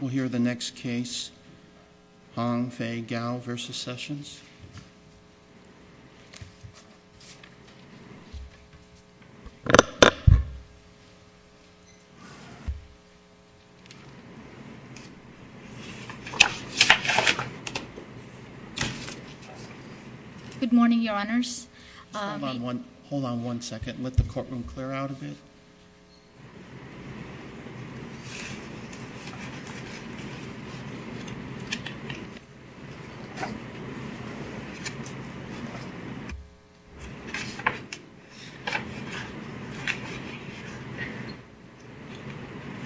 We'll hear the next case, Hong Fei Gao v. Sessions. Good morning, your honors. Hold on one second. Let the courtroom clear out a bit.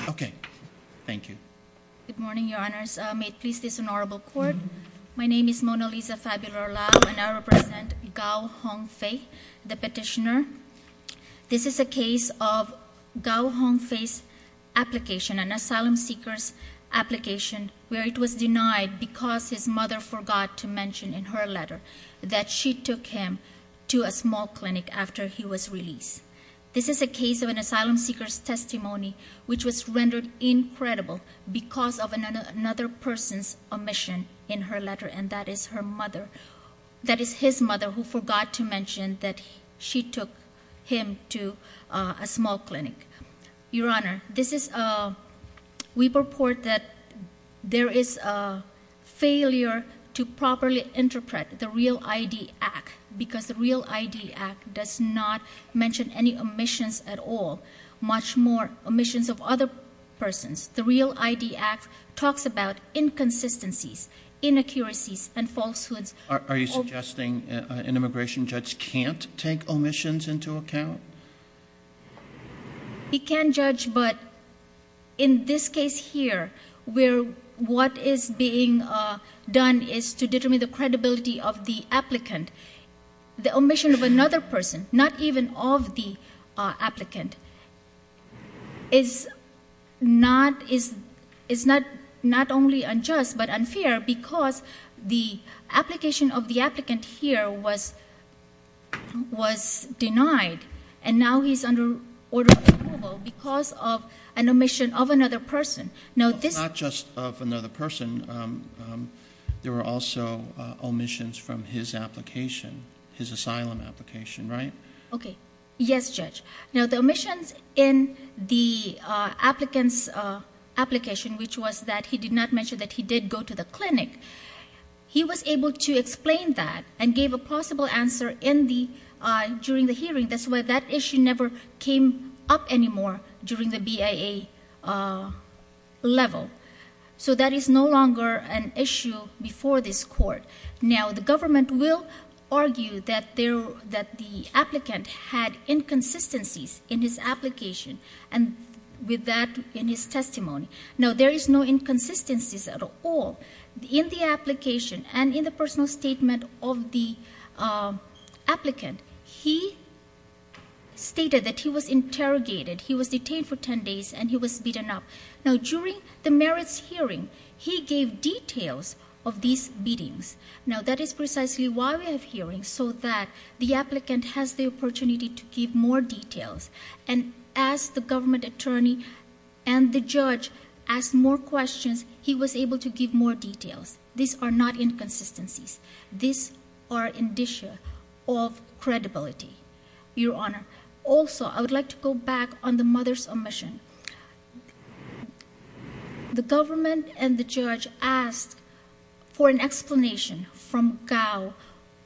Okay. Thank you. Good morning, your honors. May it please this honorable court, my name is Mona Lisa Fabular-Lao and I represent Gao Hong Fei, the petitioner. This is a case of Gao Hong Fei's application, an asylum seeker's application where it was denied because his mother forgot to mention in her letter that she took him to a small clinic after he was released. This is a case of an asylum seeker's testimony which was rendered incredible because of another person's omission in her letter and that is her mother. Her mother forgot to mention that she took him to a small clinic. Your honor, we purport that there is a failure to properly interpret the REAL-ID Act because the REAL-ID Act does not mention any omissions at all, much more omissions of other persons. The REAL-ID Act talks about inconsistencies, inaccuracies, and falsehoods. Are you suggesting an immigration judge can't take omissions into account? He can judge, but in this case here, what is being done is to determine the credibility of the applicant. The omission of another person, not even of the applicant, is not only unjust but unfair because the application of the applicant here was denied and now he's under order of removal because of an omission of another person. Not just of another person, there were also omissions from his asylum application, right? Yes, Judge. Now the omissions in the applicant's application, which was that he did not mention that he did go to the clinic, he was able to explain that and gave a possible answer during the hearing. That's why that issue never came up anymore during the BIA level. So that is no longer an issue before this court. Now the government will argue that the applicant had inconsistencies in his application and with that in his testimony. Now there is no inconsistencies at all. In the application and in the personal statement of the applicant, he stated that he was interrogated, he was detained for 10 days, and he was beaten up. Now during the merits hearing, he gave details of these beatings. Now that is precisely why we have hearings, so that the applicant has the opportunity to give more details. And as the government attorney and the judge asked more questions, he was able to give more details. These are not inconsistencies. These are indicia of credibility, Your Honor. Also, I would like to go back on the mother's omission. The government and the judge asked for an explanation from Gao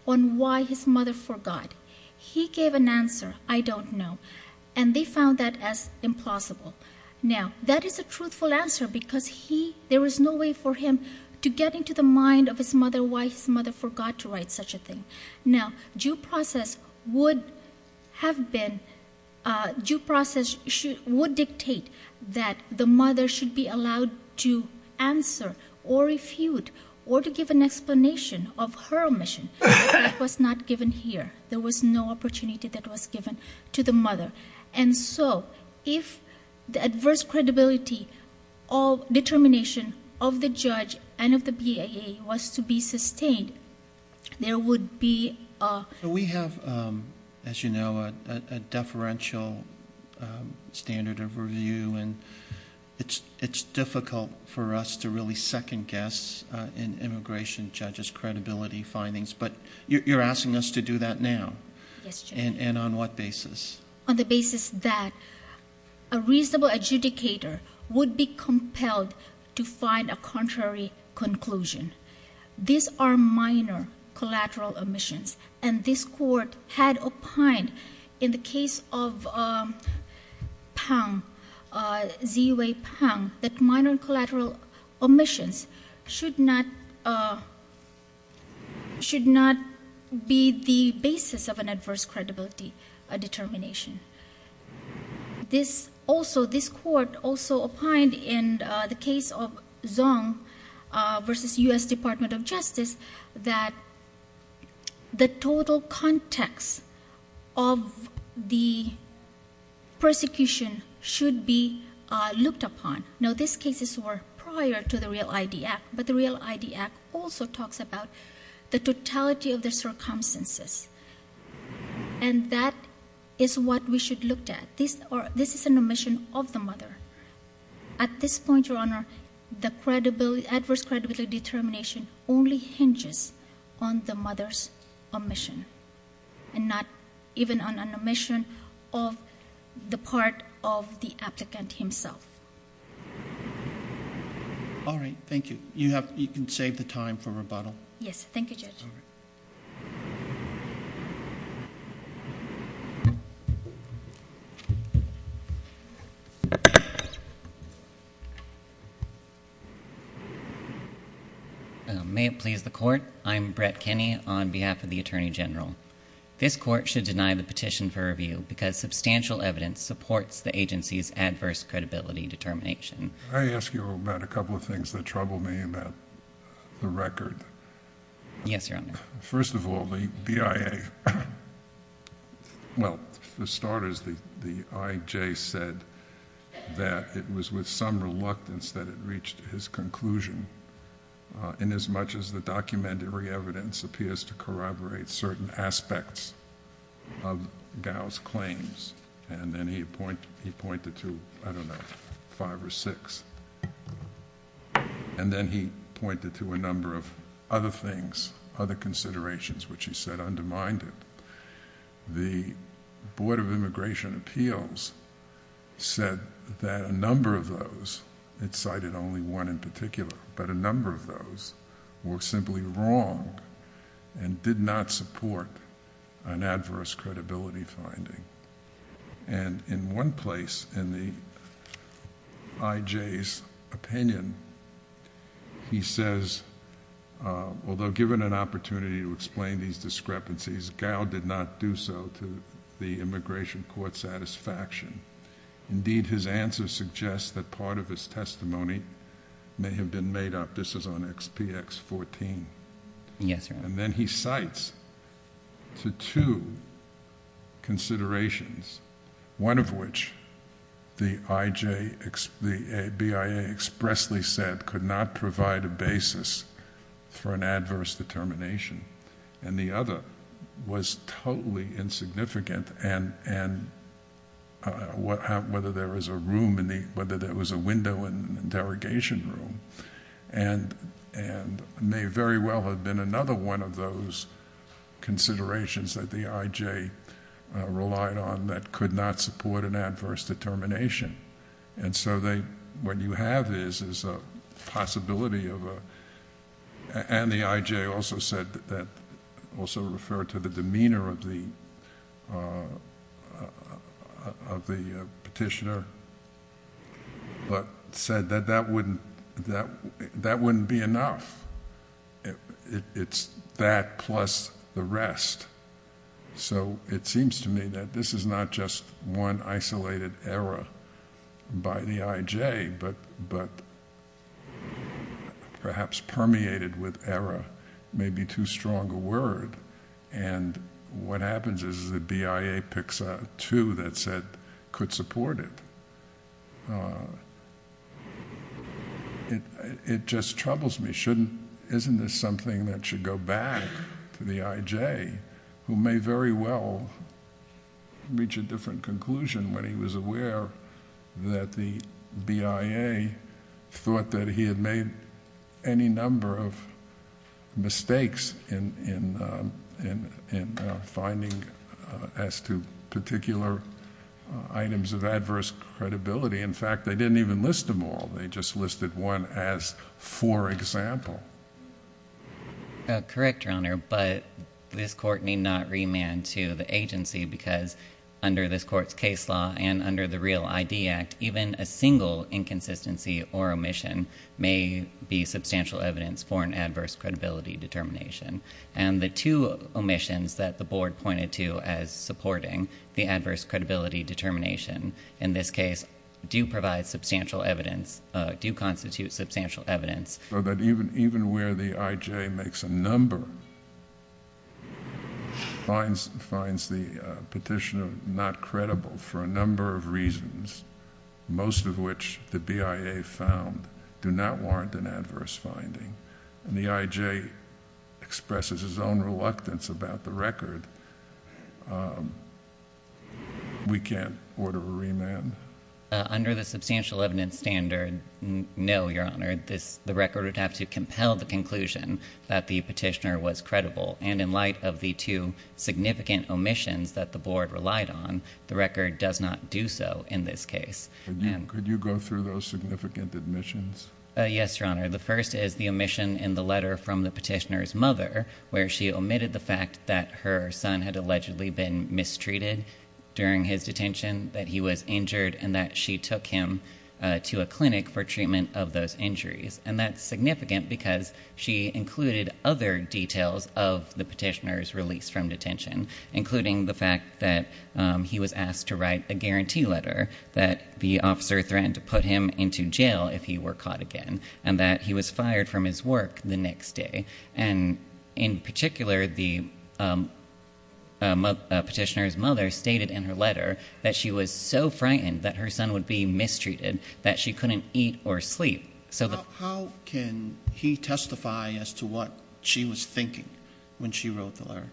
on why his mother forgot. He gave an answer, I don't know, and they found that as implausible. Now that is a truthful answer because there was no way for him to get into the mind of his mother why his mother forgot to write such a thing. Now due process would dictate that the mother should be allowed to answer or refute or to give an explanation of her omission. That was not given here. There was no opportunity that was given to the mother. And so if the adverse credibility or determination of the judge and of the BIA was to be sustained, there would be a- We have, as you know, a deferential standard of review. And it's difficult for us to really second guess in immigration judges' credibility findings. But you're asking us to do that now. Yes, Judge. And on what basis? On the basis that a reasonable adjudicator would be compelled to find a contrary conclusion. These are minor collateral omissions. And this Court had opined in the case of Pang, Z.Y. Pang, that minor collateral omissions should not be the basis of an adverse credibility determination. This Court also opined in the case of Zong v. U.S. Department of Justice that the total context of the persecution should be looked upon. Now these cases were prior to the REAL-ID Act. But the REAL-ID Act also talks about the totality of the circumstances. And that is what we should look at. This is an omission of the mother. At this point, Your Honor, the adverse credibility determination only hinges on the mother's omission and not even on an omission of the part of the applicant himself. All right. Thank you. You can save the time for rebuttal. Yes. Thank you, Judge. All right. Thank you. May it please the Court? I'm Brett Kinney on behalf of the Attorney General. This Court should deny the petition for review because substantial evidence supports the agency's adverse credibility determination. May I ask you about a couple of things that trouble me about the record? Yes, Your Honor. First of all, the BIA, well, for starters, the IJ said that it was with some reluctance that it reached his conclusion, inasmuch as the documentary evidence appears to corroborate certain aspects of Gao's claims. And then he pointed to, I don't know, five or six. And then he pointed to a number of other things, other considerations, which he said undermined it. The Board of Immigration Appeals said that a number of those, it cited only one in particular, but a number of those were simply wrong and did not support an adverse credibility finding. And in one place in the IJ's opinion, he says, although given an opportunity to explain these discrepancies, Gao did not do so to the immigration court's satisfaction. Indeed, his answer suggests that part of his testimony may have been made up. This is on XPX 14. Yes, Your Honor. And then he cites to two considerations, one of which the IJ, the BIA expressly said could not provide a basis for an adverse determination. And the other was totally insignificant. And whether there was a window in the interrogation room. And may very well have been another one of those considerations that the IJ relied on that could not support an adverse determination. And so what you have is a possibility of, and the IJ also said that, also referred to the demeanor of the petitioner, but said that that wouldn't be enough. It's that plus the rest. So it seems to me that this is not just one isolated error by the IJ, but perhaps permeated with error, maybe too strong a word. And what happens is the BIA picks up two that said could support it. It just troubles me. Isn't this something that should go back to the IJ, who may very well reach a different conclusion when he was aware that the BIA thought that he had made any number of mistakes in finding as to particular items of adverse credibility. In fact, they didn't even list them all. They just listed one as for example. Correct, Your Honor, but this court need not remand to the agency because under this court's case law and under the Real ID Act, even a single inconsistency or omission may be substantial evidence for an adverse credibility determination. And the two omissions that the board pointed to as supporting the adverse credibility determination in this case do provide substantial evidence, do constitute substantial evidence. So that even where the IJ makes a number, finds the petitioner not credible for a number of reasons, most of which the BIA found, do not warrant an adverse finding. And the IJ expresses his own reluctance about the record. We can't order a remand? Under the substantial evidence standard, no, Your Honor. The record would have to compel the conclusion that the petitioner was credible. And in light of the two significant omissions that the board relied on, the record does not do so in this case. Could you go through those significant omissions? Yes, Your Honor. The first is the omission in the letter from the petitioner's mother, where she omitted the fact that her son had allegedly been mistreated during his detention, that he was injured, and that she took him to a clinic for treatment of those injuries. And that's significant because she included other details of the petitioner's release from detention, including the fact that he was asked to write a guarantee letter that the officer threatened to put him into jail if he were caught again. And that he was fired from his work the next day. And in particular, the petitioner's mother stated in her letter that she was so frightened that her son would be mistreated that she couldn't eat or sleep. How can he testify as to what she was thinking when she wrote the letter,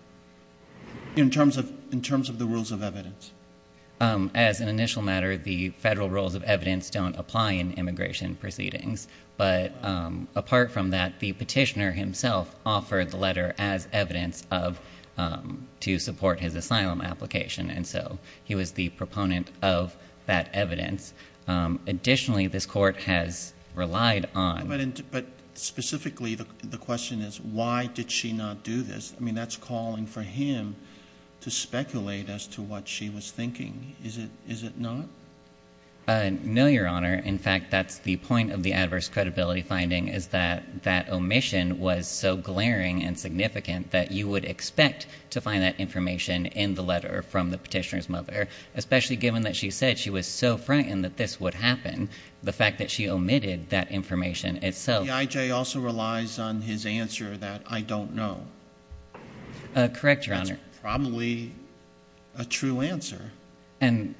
in terms of the rules of evidence? As an initial matter, the federal rules of evidence don't apply in immigration proceedings. But apart from that, the petitioner himself offered the letter as evidence to support his asylum application. And so he was the proponent of that evidence. Additionally, this court has relied on... But specifically, the question is, why did she not do this? I mean, that's calling for him to speculate as to what she was thinking. Is it not? No, Your Honor. In fact, that's the point of the adverse credibility finding, is that that omission was so glaring and significant that you would expect to find that information in the letter from the petitioner's mother. Especially given that she said she was so frightened that this would happen. The fact that she omitted that information itself... ...that I don't know. Correct, Your Honor. That's probably a true answer. And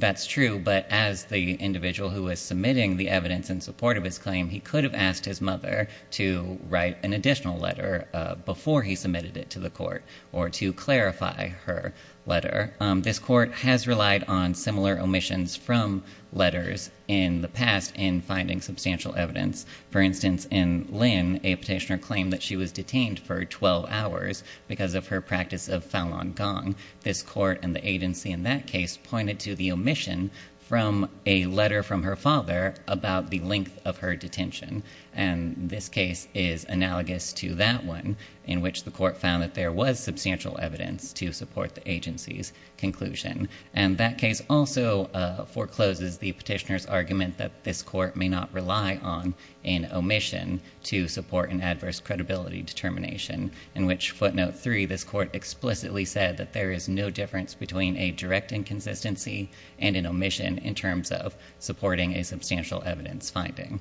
that's true. But as the individual who was submitting the evidence in support of his claim, he could have asked his mother to write an additional letter before he submitted it to the court or to clarify her letter. This court has relied on similar omissions from letters in the past in finding substantial evidence. For instance, in Lynn, a petitioner claimed that she was detained for 12 hours because of her practice of Falun Gong. This court and the agency in that case pointed to the omission from a letter from her father about the length of her detention. And this case is analogous to that one, in which the court found that there was substantial evidence to support the agency's conclusion. And that case also forecloses the petitioner's argument that this court may not rely on an omission to support an adverse credibility determination. In which footnote 3, this court explicitly said that there is no difference between a direct inconsistency and an omission in terms of supporting a substantial evidence finding.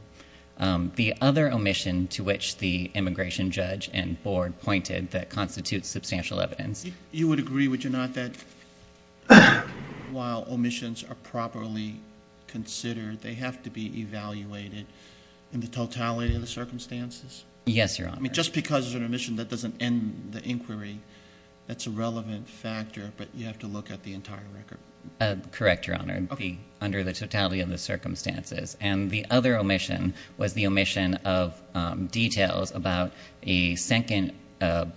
The other omission to which the immigration judge and board pointed that constitutes substantial evidence... You would agree, would you not, that while omissions are properly considered, they have to be evaluated in the totality of the circumstances? Yes, Your Honor. I mean, just because there's an omission, that doesn't end the inquiry. That's a relevant factor, but you have to look at the entire record. Correct, Your Honor, under the totality of the circumstances. And the other omission was the omission of details about a second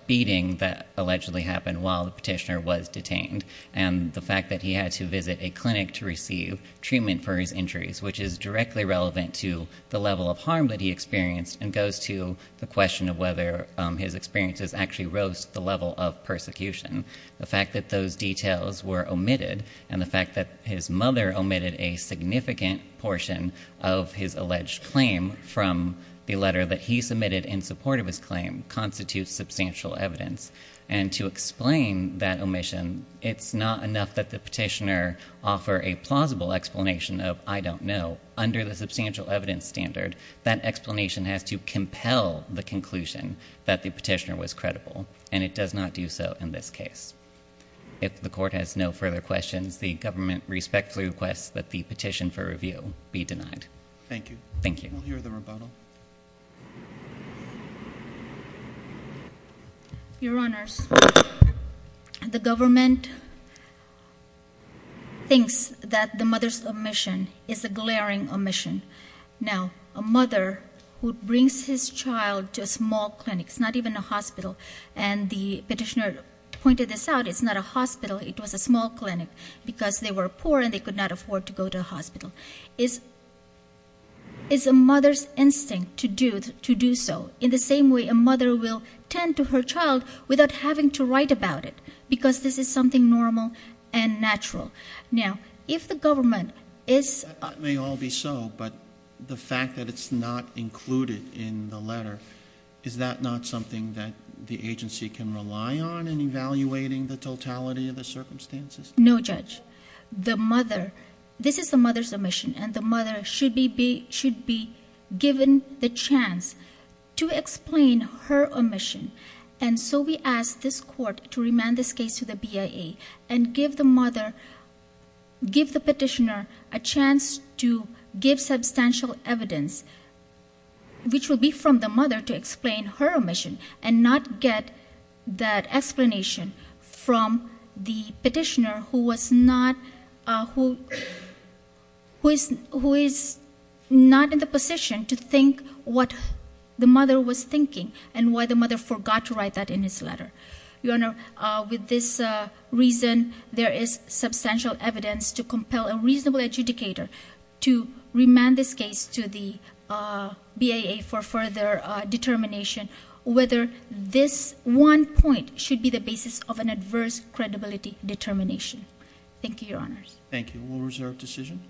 beating that allegedly happened while the petitioner was detained. And the fact that he had to visit a clinic to receive treatment for his injuries, which is directly relevant to the level of harm that he experienced. And goes to the question of whether his experiences actually rose to the level of persecution. The fact that those details were omitted, and the fact that his mother omitted a significant portion of his alleged claim from the letter that he submitted in support of his claim, constitutes substantial evidence. And to explain that omission, it's not enough that the petitioner offer a plausible explanation of, I don't know. Under the substantial evidence standard, that explanation has to compel the conclusion that the petitioner was credible. And it does not do so in this case. If the court has no further questions, the government respectfully requests that the petition for review be denied. Thank you. Thank you. We'll hear the rebuttal. Your Honors, the government thinks that the mother's omission is a glaring omission. Now, a mother who brings his child to a small clinic, it's not even a hospital, and the petitioner pointed this out, it's not a hospital, it was a small clinic. Because they were poor and they could not afford to go to a hospital. It's a mother's instinct to do so, in the same way a mother will tend to her child without having to write about it. Because this is something normal and natural. Now, if the government is- It may all be so, but the fact that it's not included in the letter, is that not something that the agency can rely on in evaluating the totality of the circumstances? No, Judge. This is the mother's omission, and the mother should be given the chance to explain her omission. And so we ask this court to remand this case to the BIA and give the petitioner a chance to give substantial evidence, which will be from the mother to explain her omission, and not get that explanation from the petitioner who is not in the position to think what the mother was thinking, and why the mother forgot to write that in his letter. Your Honor, with this reason, there is substantial evidence to compel a reasonable adjudicator to remand this case to the BIA for further determination, whether this one point should be the basis of an adverse credibility determination. Thank you, Your Honors. Thank you. We'll reserve decision.